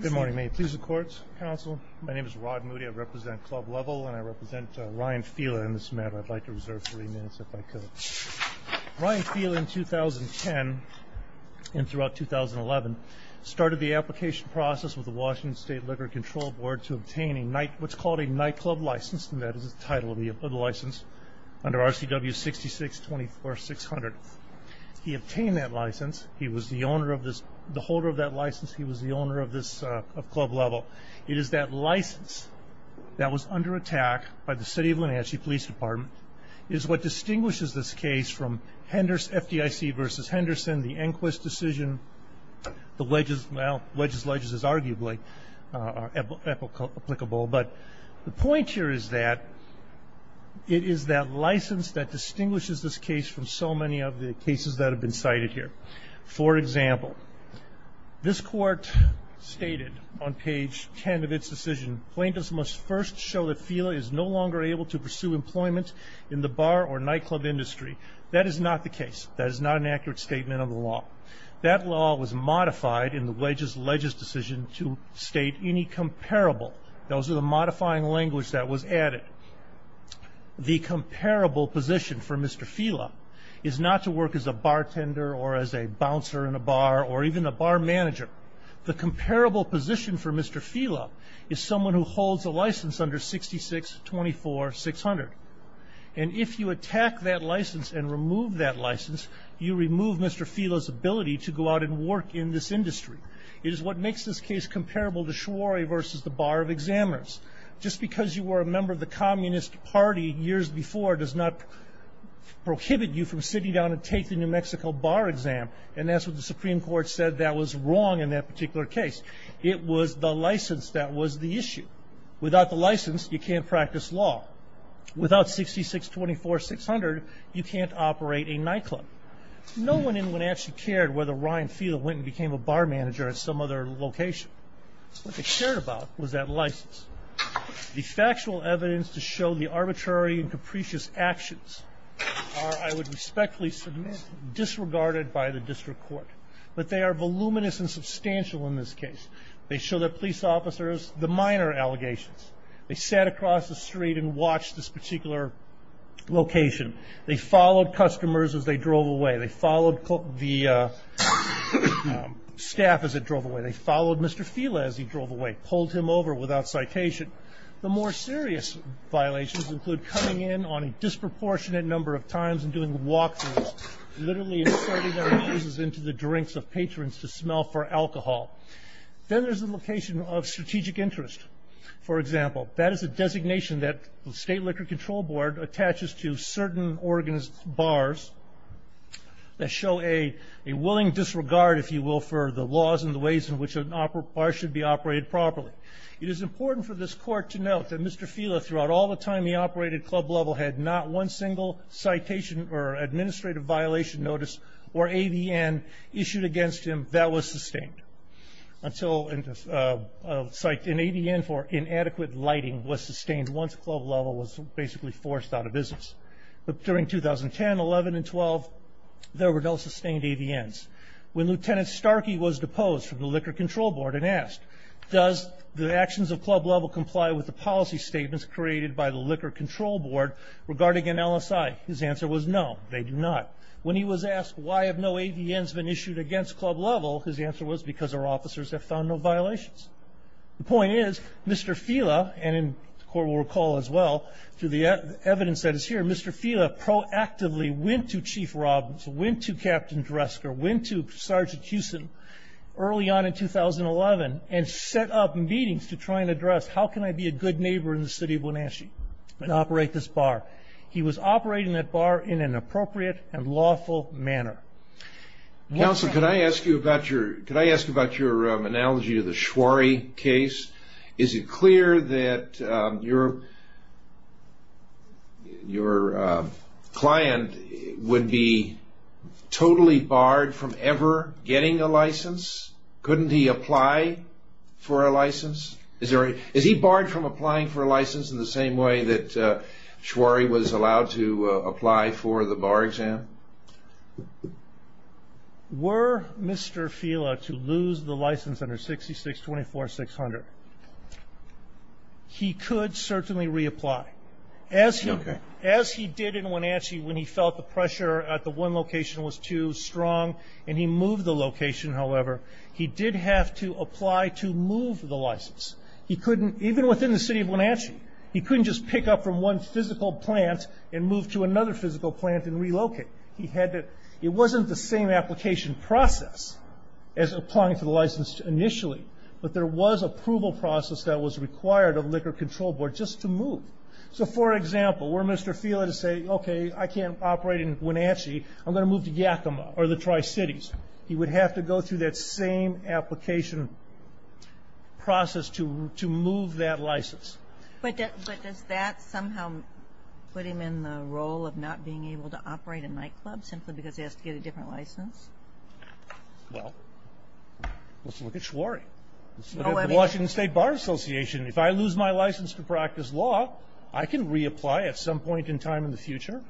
Good morning. May it please the courts, counsel. My name is Rod Moody. I represent Club Level and I represent Ryan Fila in this matter. I'd like to reserve three minutes if I could. Ryan Fila in 2010 and throughout 2011 started the application process with the Washington State Liquor Control Board to obtain what's called a nightclub license. That is the title of the license under RCW 6624600. He obtained that license. He was the holder of that license. He was the owner of Club Level. It is that license that was under attack by the City of Wenatchee Police Department. It is what distinguishes this case from FDIC v. Henderson, the Enquist decision. The wedges, well, wedges, ledges is arguably applicable, but the point here is that it is that license that distinguishes this case from so many of the cases that have been cited here. For example, this court stated on page 10 of its decision, plaintiffs must first show that Fila is no longer able to pursue employment in the bar or nightclub industry. That is not the case. That is not an accurate statement of the law. That law was modified in the wedges, ledges decision to state any comparable. Those are the modifying language that was added. The comparable position for Mr. Fila is not to work as a bartender or as a bouncer in a bar or even a bar manager. The comparable position for Mr. Fila is someone who holds a license under 6624600. And if you attack that license and remove that license, you remove Mr. Fila's ability to go out and work in this industry. It is what makes this case comparable to Schware versus the bar of examiners. Just because you were a member of the Communist Party years before does not prohibit you from sitting down and taking the New Mexico bar exam. And that's what the Supreme Court said that was wrong in that particular case. It was the license that was the issue. Without the license, you can't practice law. Without 6624600, you can't operate a nightclub. No one in Wenatchee cared whether Ryan Fila went and became a bar manager at some other location. What they cared about was that license. The factual evidence to show the arbitrary and capricious actions are, I would respectfully submit, disregarded by the district court. But they are voluminous and substantial in this case. They show the police officers the minor allegations. They sat across the street and watched this particular location. They followed customers as they drove away. They followed staff as they drove away. They followed Mr. Fila as he drove away. Pulled him over without citation. The more serious violations include coming in on a disproportionate number of times and doing walk-throughs. Literally inserting their noses into the drinks of patrons to smell for alcohol. Then there's the location of strategic interest. For example, that is a designation that the State Liquor Control Board attaches to certain organized bars that show a willing disregard, if you will, for the laws and the ways in which a bar should be operated properly. It is important for this court to note that Mr. Fila, throughout all the time he operated Club Level, had not one single citation or administrative violation notice or ADN issued against him that was sustained. Until an ADN for inadequate lighting was sustained once Club Level was basically forced out of business. During 2010, 11, and 12, there were no sustained ADNs. When Lieutenant Starkey was deposed from the Liquor Control Board and asked, does the actions of Club Level comply with the policy statements created by the Liquor Control Board regarding an LSI, his answer was no, they do not. When he was asked why have no ADNs been issued against Club Level, his answer was because our officers have found no violations. The point is, Mr. Fila, and the court will remember, Mr. Fila proactively went to Chief Robbins, went to Captain Dresker, went to Sergeant Hewson early on in 2011, and set up meetings to try and address how can I be a good neighbor in the city of Wenatchee and operate this bar. He was operating that bar in an appropriate and lawful manner. Counsel, could I ask you about your analogy of the Schwary case? Is it clear that your client would be totally barred from ever getting a license? Couldn't he apply for a license? Is he barred from applying for a license in the same way that Schwary was allowed to apply for the bar exam? Were Mr. Fila to lose the license under 66-24-600, he could certainly reapply. As he did in Wenatchee when he felt the pressure at the one location was too strong and he moved the location, however, he did have to apply to move the license. He couldn't, even within the city of Wenatchee, he couldn't just pick up from one physical plant and move to another physical plant and relocate. He had to, it wasn't the same application process as applying for the license initially, but there was approval process that was required of Liquor Control Board just to move. So for example, were Mr. Fila to say, okay, I can't operate in Wenatchee, I'm going to move to Yakima or the Tri-Cities. He would have to go through that same application process to move that license. But does that somehow put him in the role of not being able to operate a nightclub simply because he has to get a different license? Well, let's look at Schwary. Let's look at the Washington State Bar Association. If I lose my license to practice law, I can reapply at some point in time in the future,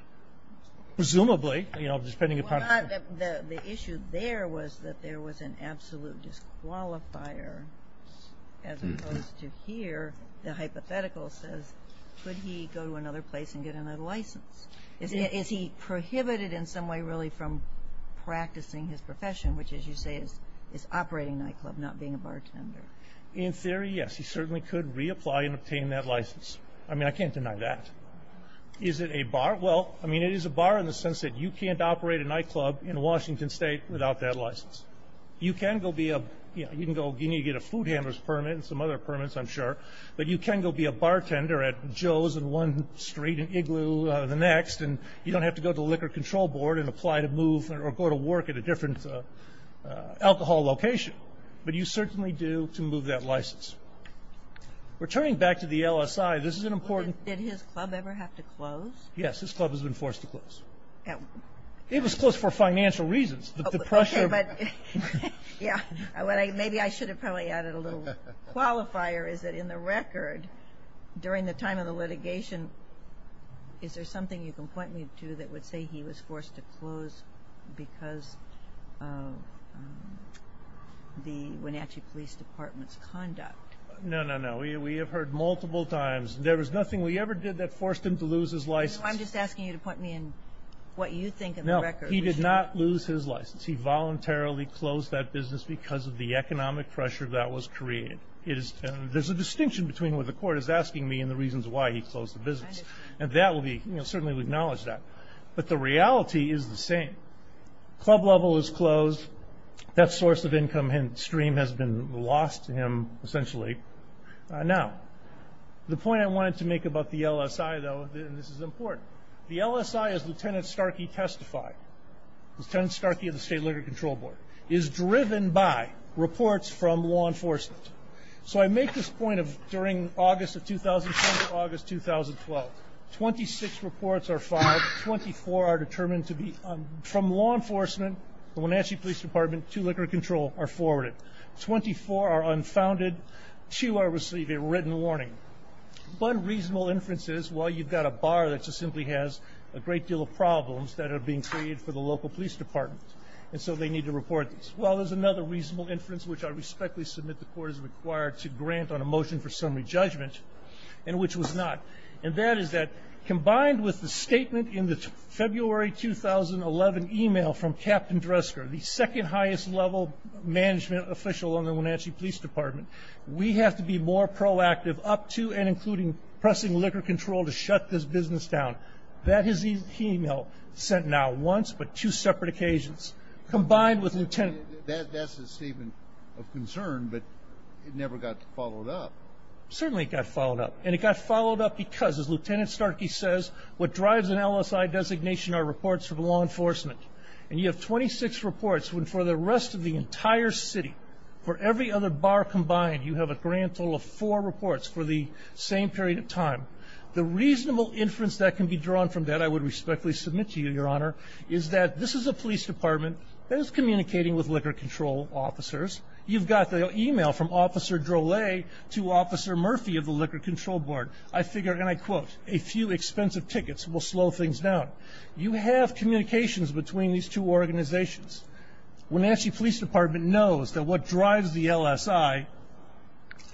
presumably. The issue there was that there was an absolute disqualifier as opposed to here. The hypothetical says, could he go to another place and get another license? Is he prohibited in some way really from practicing his profession, which as you say is operating a nightclub, not being a bartender? In theory, yes. He certainly could reapply and obtain that license. I mean, I can't deny that. Is it a bar? Well, I mean, it is a bar in the sense that you can't operate a nightclub in Washington State without that license. You can go be a, you know, you can get a food handler's permit and some other permits, I'm sure, but you can go be a bartender at Joe's and One Street and Igloo the next, and you don't have to go to the Liquor Control Board and apply to move or go to work at a different alcohol location. But you certainly do to move that license. Returning back to the LSI, this is an important Did his club ever have to close? Yes. His club has been forced to close. It was closed for financial reasons. The pressure Okay, but yeah. Maybe I should have probably added a little qualifier, is that in the record during the time of the litigation, is there something you can point me to that would say he was forced to close because of the Wenatchee Police Department's conduct? No, no, no. We have heard multiple times. There was nothing we ever did that forced him to lose his license. I'm just asking you to point me in what you think in the record. No, he did not lose his license. He voluntarily closed that business because of the economic pressure that was created. It is, there's a distinction between what the court is asking me and the reasons why he closed the business. I understand. And that will be, you know, certainly we acknowledge that. But the reality is the same. Club level is closed. That source of income stream has been lost to him, essentially. Now, the point I wanted to make about the LSI, though, and this is important. The LSI, as Lieutenant Starkey testified, Lieutenant Starkey of the State Liquor Control Board, is driven by reports from law enforcement. So I make this point of during August of 2010 to August 2012, 26 reports are filed. 24 are determined to be from law enforcement, the Wenatchee Police Department, to liquor control are forwarded. 24 are unfounded. Two are receiving written warning. One reasonable inference is, well, you've got a bar that just simply has a great deal of problems that are being created for the local police department. And so they need to report these. Well, there's another reasonable inference, which I respectfully submit the court is required to grant on a motion for summary judgment, and which was not. And that is that combined with the statement in the February 2011 email from Captain Dresker, the second highest level management official on the Wenatchee Police Department, we have to be more proactive up to and including pressing liquor control to shut this business down. That is the email sent not once, but two separate occasions, combined with Lieutenant That's a statement of concern, but it never got followed up. Certainly it got followed up. And it got followed up because, as Lieutenant Starkey says, what drives an LSI designation are reports from law enforcement. And you have 26 reports for the rest of the entire city. For every other bar combined, you have a grand total of four reports for the same period of time. The reasonable inference that can be drawn from that I would respectfully submit to you, Your Honor, is that this is a police department that is communicating with liquor control officers. You've got the email from Officer Drolet to Officer Murphy of the Liquor Control Board. I figure, and I quote, a few expensive tickets will slow things down. You have communications between these two organizations. Wenatchee Police Department knows that what drives the LSI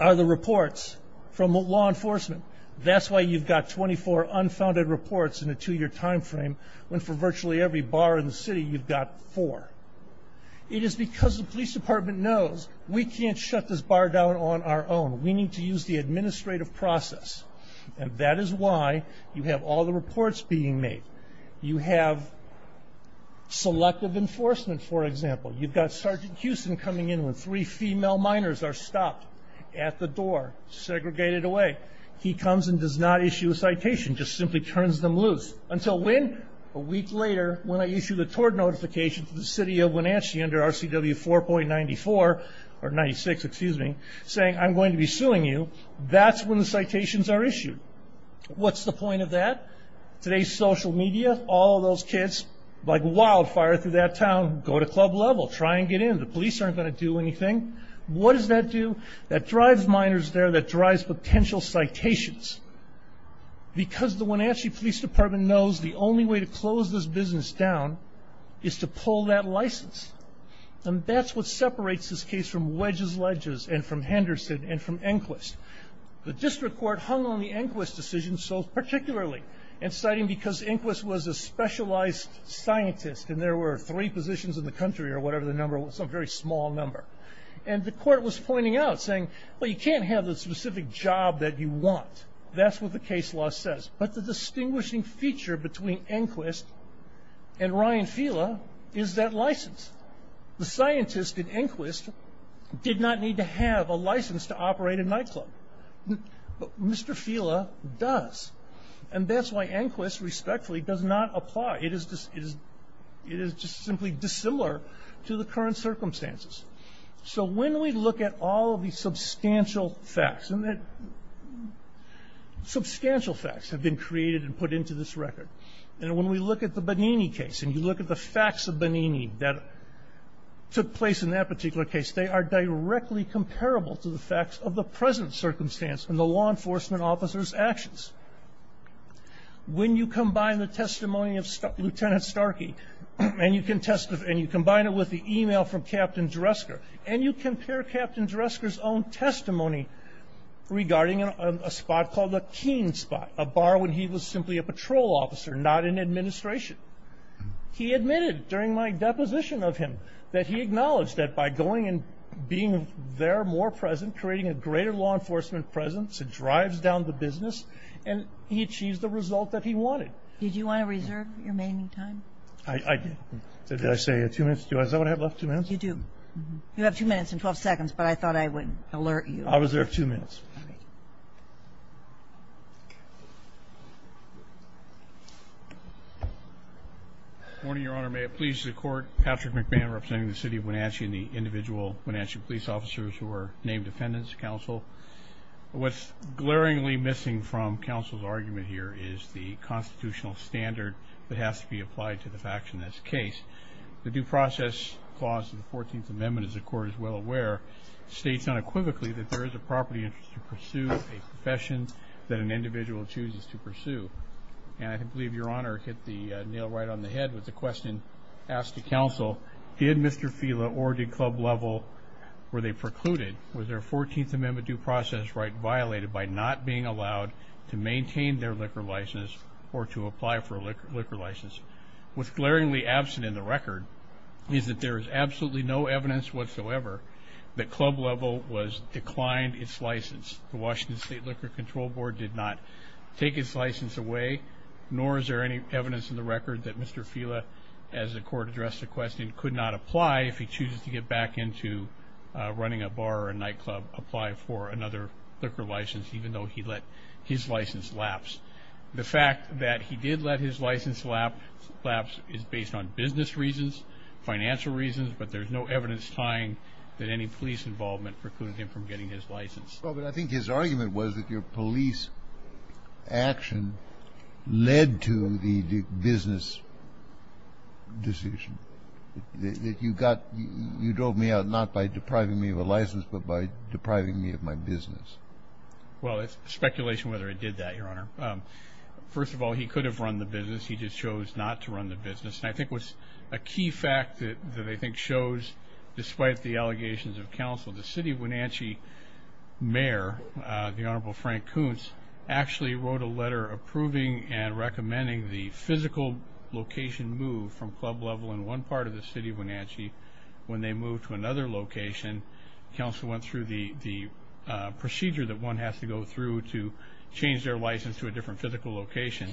are the reports from law enforcement. That's why you've got 24 unfounded reports in a two-year time frame, when for virtually every bar in the city, you've got four. It is because the police department knows we can't shut this bar down on our own. We need to use the administrative process. And that is why you have all the reports being made. You have selective enforcement, for example. You've got Sergeant Houston coming in when three female minors are stopped at the door, segregated away. He comes and does not issue a citation, just simply turns them loose. Until when? A week later, when I issue the tort notification to the city of Wenatchee under RCW 4.94, or 96, excuse me, saying I'm going to be suing you. That's when the citations are issued. What's the point of that? Today's social media, all those kids, like wildfire through that town, go to club level. Try and get in. The police aren't going to do anything. What does that do? That drives minors there. That drives potential citations. Because the Wenatchee Police Department knows the only way to close this business down is to pull that license. And that's what separates this case from wedges ledges and from Henderson and from Enquist. The district court hung on the Enquist decision so particularly, and citing because Enquist was a specialized scientist and there were three positions in the country or whatever the number was, some very small number. And the court was pointing out, saying, well, you can't have the specific job that you want. That's what the case law says. But the distinguishing feature between Enquist and Ryan Fila is that license. The scientist in Enquist did not need to have a license to operate a nightclub. Mr. Fila does. And that's why Enquist respectfully does not apply. It is just simply dissimilar to the current circumstances. So when we look at all of the substantial facts, and that substantial facts have been created and put into this record, and when we look at the Bonini case, and you look at the facts of Bonini that took place in that particular case, they are directly comparable to the facts of the present circumstance and the law enforcement officer's actions. When you combine the testimony of Lieutenant Starkey and you combine it with the email from Captain Dresker and you compare Captain Dresker's own testimony regarding a spot called the Keene spot, a bar when he was simply a patrol officer, not in administration, he admitted during my deposition of him that he acknowledged that by going and being there more present, creating a greater law enforcement presence, it drives down the business, and he achieved the result that he wanted. Did you want to reserve your remaining time? I did. Did I say two minutes? Do I still have two minutes? You do. You have two minutes and 12 seconds, but I thought I would alert you. I'll reserve two minutes. Good morning, Your Honor. May it please the Court, Patrick McMahon representing the City of Wenatchee and the individual Wenatchee police officers who are named defendants, counsel. What's glaringly missing from counsel's argument here is the constitutional standard that has to be applied to this action in this case. The due process clause of the 14th Amendment, as the Court is well aware, states unequivocally that there is a property interest to pursue a profession that an individual chooses to pursue. And I believe Your Honor hit the nail right on the head with the question asked to counsel, did Mr. Fila or did Club Lovell, were they precluded? Was their 14th Amendment due process right violated by not being allowed to maintain their liquor license or to apply for a liquor license? What's glaringly absent in the record is that there is absolutely no evidence whatsoever that Club Lovell declined its license. The Washington State Liquor Control Board did not take its license away, nor is there any evidence in the record that Mr. Fila, as the Court addressed the question, could not apply if he chooses to get back into running a bar or a nightclub, apply for another liquor license, even though he let his license lapse. The fact that he did let his license lapse is based on business reasons, financial reasons, but there's no evidence tying that any police involvement precluded him from getting his license. Well, but I think his argument was that your police action led to the business decision, that you drove me out not by depriving me of a license but by depriving me of my business. Well, it's speculation whether it did that, Your Honor. First of all, he could have run the business. He just chose not to run the business. And I think what's a key fact that I think shows, despite the allegations of counsel, the city of Wenatchee mayor, the Honorable Frank Kuntz, actually wrote a letter approving and recommending the physical location move from club level in one part of the city of Wenatchee when they moved to another location. Counsel went through the procedure that one has to go through to change their license to a different physical location.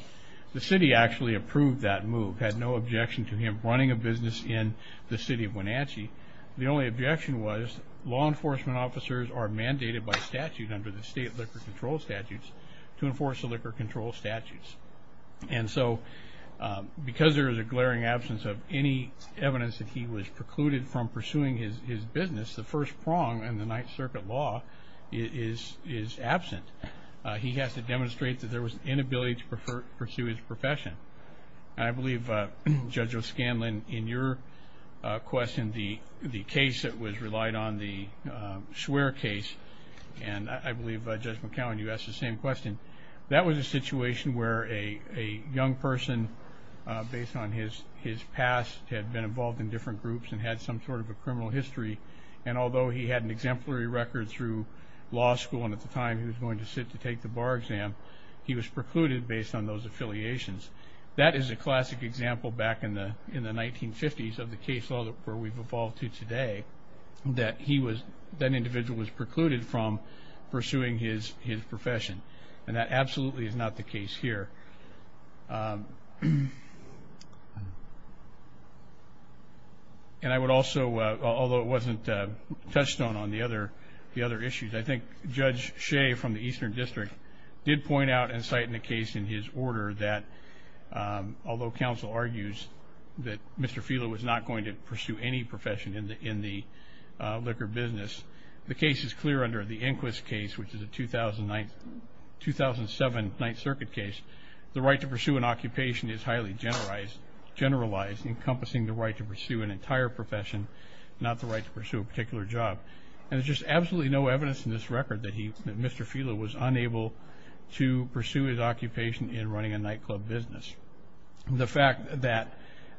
The city actually approved that move, had no objection to him running a business in the city of Wenatchee. The only objection was law enforcement officers are mandated by statute under the state liquor control statutes to enforce the liquor control statutes. And so because there is a glaring absence of any evidence that he was precluded from pursuing his business, the first prong in the Ninth Circuit law is absent. He has to demonstrate that there was an inability to pursue his profession. I believe, Judge O'Scanlan, in your question, the case that was relied on, the Schwer case, and I believe, Judge McCowan, you asked the same question. That was a situation where a young person, based on his past, had been involved in different groups and had some sort of a criminal history, and although he had an exemplary record through law school and at the time he was going to sit to take the bar exam, he was precluded based on those affiliations. That is a classic example back in the 1950s of the case where we've evolved to today, that he was, that individual was precluded from pursuing his profession. And that absolutely is not the case here. And I would also, although it wasn't touchstone on the other issues, I think Judge Shea from the Eastern District did point out and cite in the case in his order that, although counsel argues that Mr. Fila was not going to pursue any profession in the liquor business, the case is clear under the Inquis case, which is a 2009, 2007 Ninth Circuit case. The right to pursue an occupation is highly generalized, encompassing the right to pursue an entire profession, not the right to pursue a particular job. And there's just absolutely no evidence in this record that Mr. Fila was unable to pursue his occupation in running a nightclub business. The fact that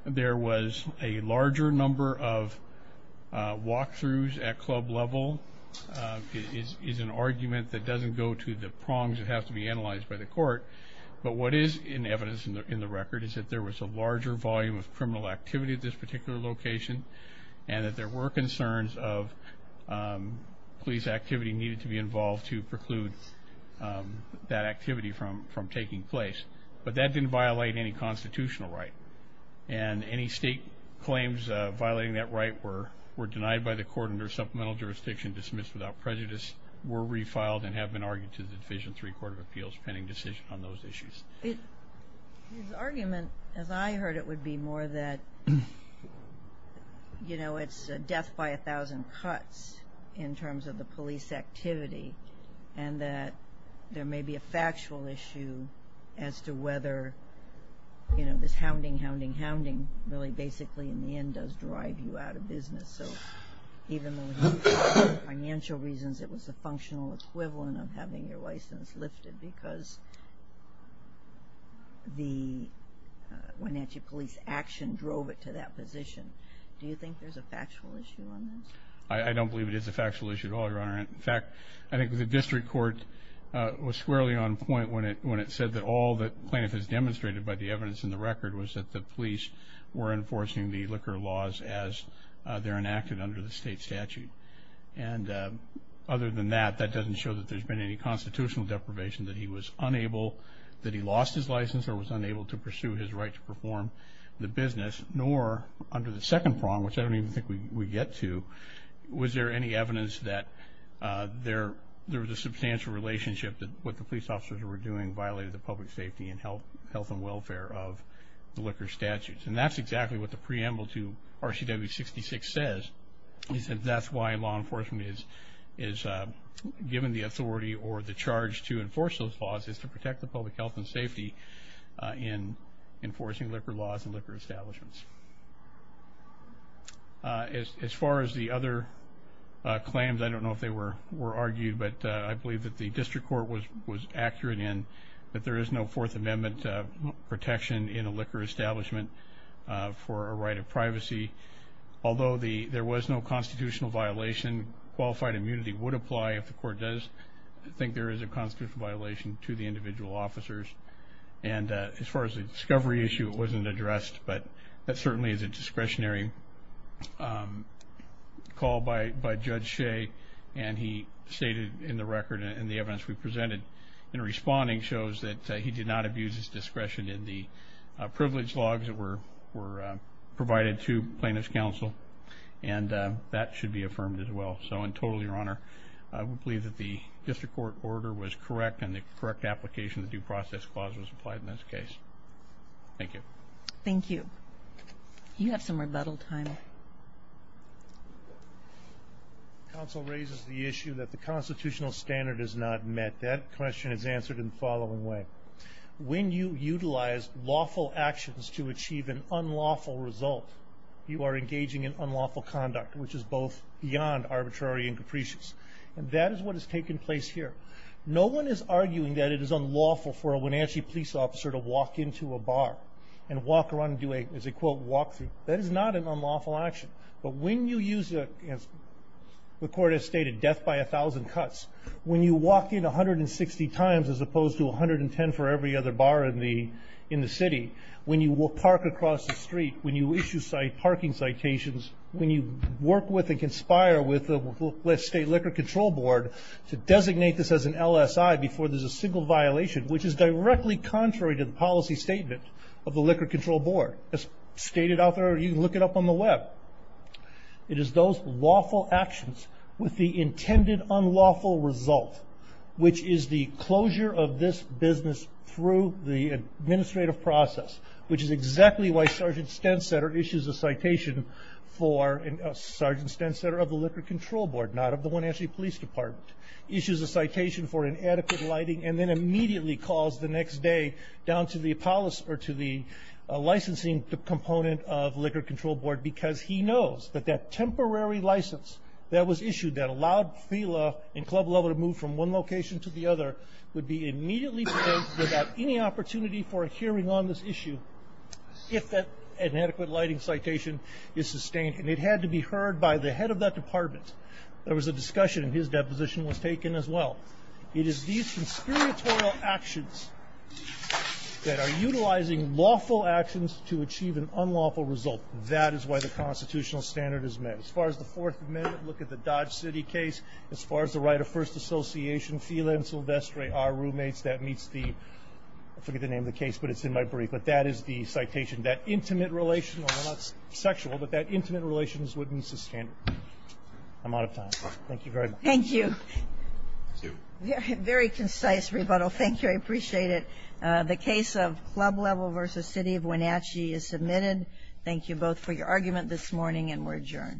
there was a larger number of walkthroughs at club level is an argument that doesn't go to the prongs that have to be analyzed by the court. But what is in evidence in the record is that there was a larger volume of criminal activity at this particular location and that there were concerns of police activity needed to be involved to preclude that activity from taking place. But that didn't violate any constitutional right. And any state claims violating that right were denied by the court under supplemental jurisdiction, dismissed without prejudice, were refiled, and have been argued to the Division III Court of Appeals pending decision on those issues. His argument, as I heard it, would be more that, you know, it's a death by a thousand cuts in terms of the police activity and that there may be a factual issue as to whether, you know, this hounding, hounding, hounding really basically in the end does drive you out of business. So even though for financial reasons it was a functional equivalent of having your license lifted because the Wenatchee Police action drove it to that position, do you think there's a factual issue on this? I don't believe it is a factual issue at all, Your Honor. In fact, I think the district court was squarely on point when it said that all that plaintiff has demonstrated by the evidence in the record was that the police were enforcing the liquor laws as they're enacted under the state statute. And other than that, that doesn't show that there's been any constitutional deprivation, that he was unable, that he lost his license or was unable to pursue his right to perform the business, nor under the second prong, which I don't even think we get to, was there any evidence that there was a substantial relationship that what the police officers were doing violated the public safety and health and welfare of the liquor statutes. And that's exactly what the preamble to RCW 66 says, is that that's why law enforcement is given the authority or the charge to enforce those laws, is to protect the public health and safety in enforcing liquor laws and liquor establishments. As far as the other claims, I don't know if they were argued, but I believe that the district court was accurate in that there is no Fourth Amendment protection in a liquor establishment for a right of privacy. Although there was no constitutional violation, qualified immunity would apply if the court does think there is a constitutional violation to the individual officers. And as far as the discovery issue, it wasn't addressed, but that certainly is a discretionary call by Judge Shea, and he stated in the record and the evidence we presented in responding, shows that he did not abuse his discretion in the privilege logs that were provided to plaintiff's counsel, and that should be affirmed as well. So in total, Your Honor, I would believe that the district court order was correct and the correct application of the due process clause was applied in this case. Thank you. Thank you. You have some rebuttal time. Counsel raises the issue that the constitutional standard is not met. That question is answered in the following way. When you utilize lawful actions to achieve an unlawful result, you are engaging in unlawful conduct, which is both beyond arbitrary and capricious. And that is what has taken place here. No one is arguing that it is unlawful for a Wenatchee police officer to walk into a bar and walk around and do a, as they quote, walk-through. That is not an unlawful action. But when you use, as the court has stated, death by a thousand cuts, when you walk in 160 times as opposed to 110 for every other bar in the city, when you park across the street, when you issue parking citations, when you work with and conspire with the state liquor control board to designate this as an LSI before there's a single violation, which is directly contrary to the policy statement of the liquor control board, as stated out there, or you can look it up on the web. It is those lawful actions with the intended unlawful result, which is the closure of this business through the administrative process, which is exactly why Sergeant Stensetter issues a citation for, Sergeant Stensetter of the liquor control board, not of the Wenatchee Police Department, issues a citation for inadequate lighting and then immediately calls the next day down to the licensing component of the liquor control board because he knows that that temporary license that was issued that allowed Thela and Club Lovell to move from one location to the other would be immediately delayed without any opportunity for a hearing on this issue if that inadequate lighting citation is sustained. And it had to be heard by the head of that department. There was a discussion, and his deposition was taken as well. It is these conspiratorial actions that are utilizing lawful actions to achieve an unlawful result. That is why the constitutional standard is met. As far as the Fourth Amendment, look at the Dodge City case. As far as the right of first association, Thela and Silvestre are roommates. That meets the, I forget the name of the case, but it's in my brief. But that is the citation. That intimate relation, not sexual, but that intimate relation would be sustained. I'm out of time. Thank you very much. Thank you. Very concise rebuttal. Thank you. I appreciate it. The case of Club Lovell v. City of Wenatchee is submitted. Thank you both for your argument this morning, and we're adjourned.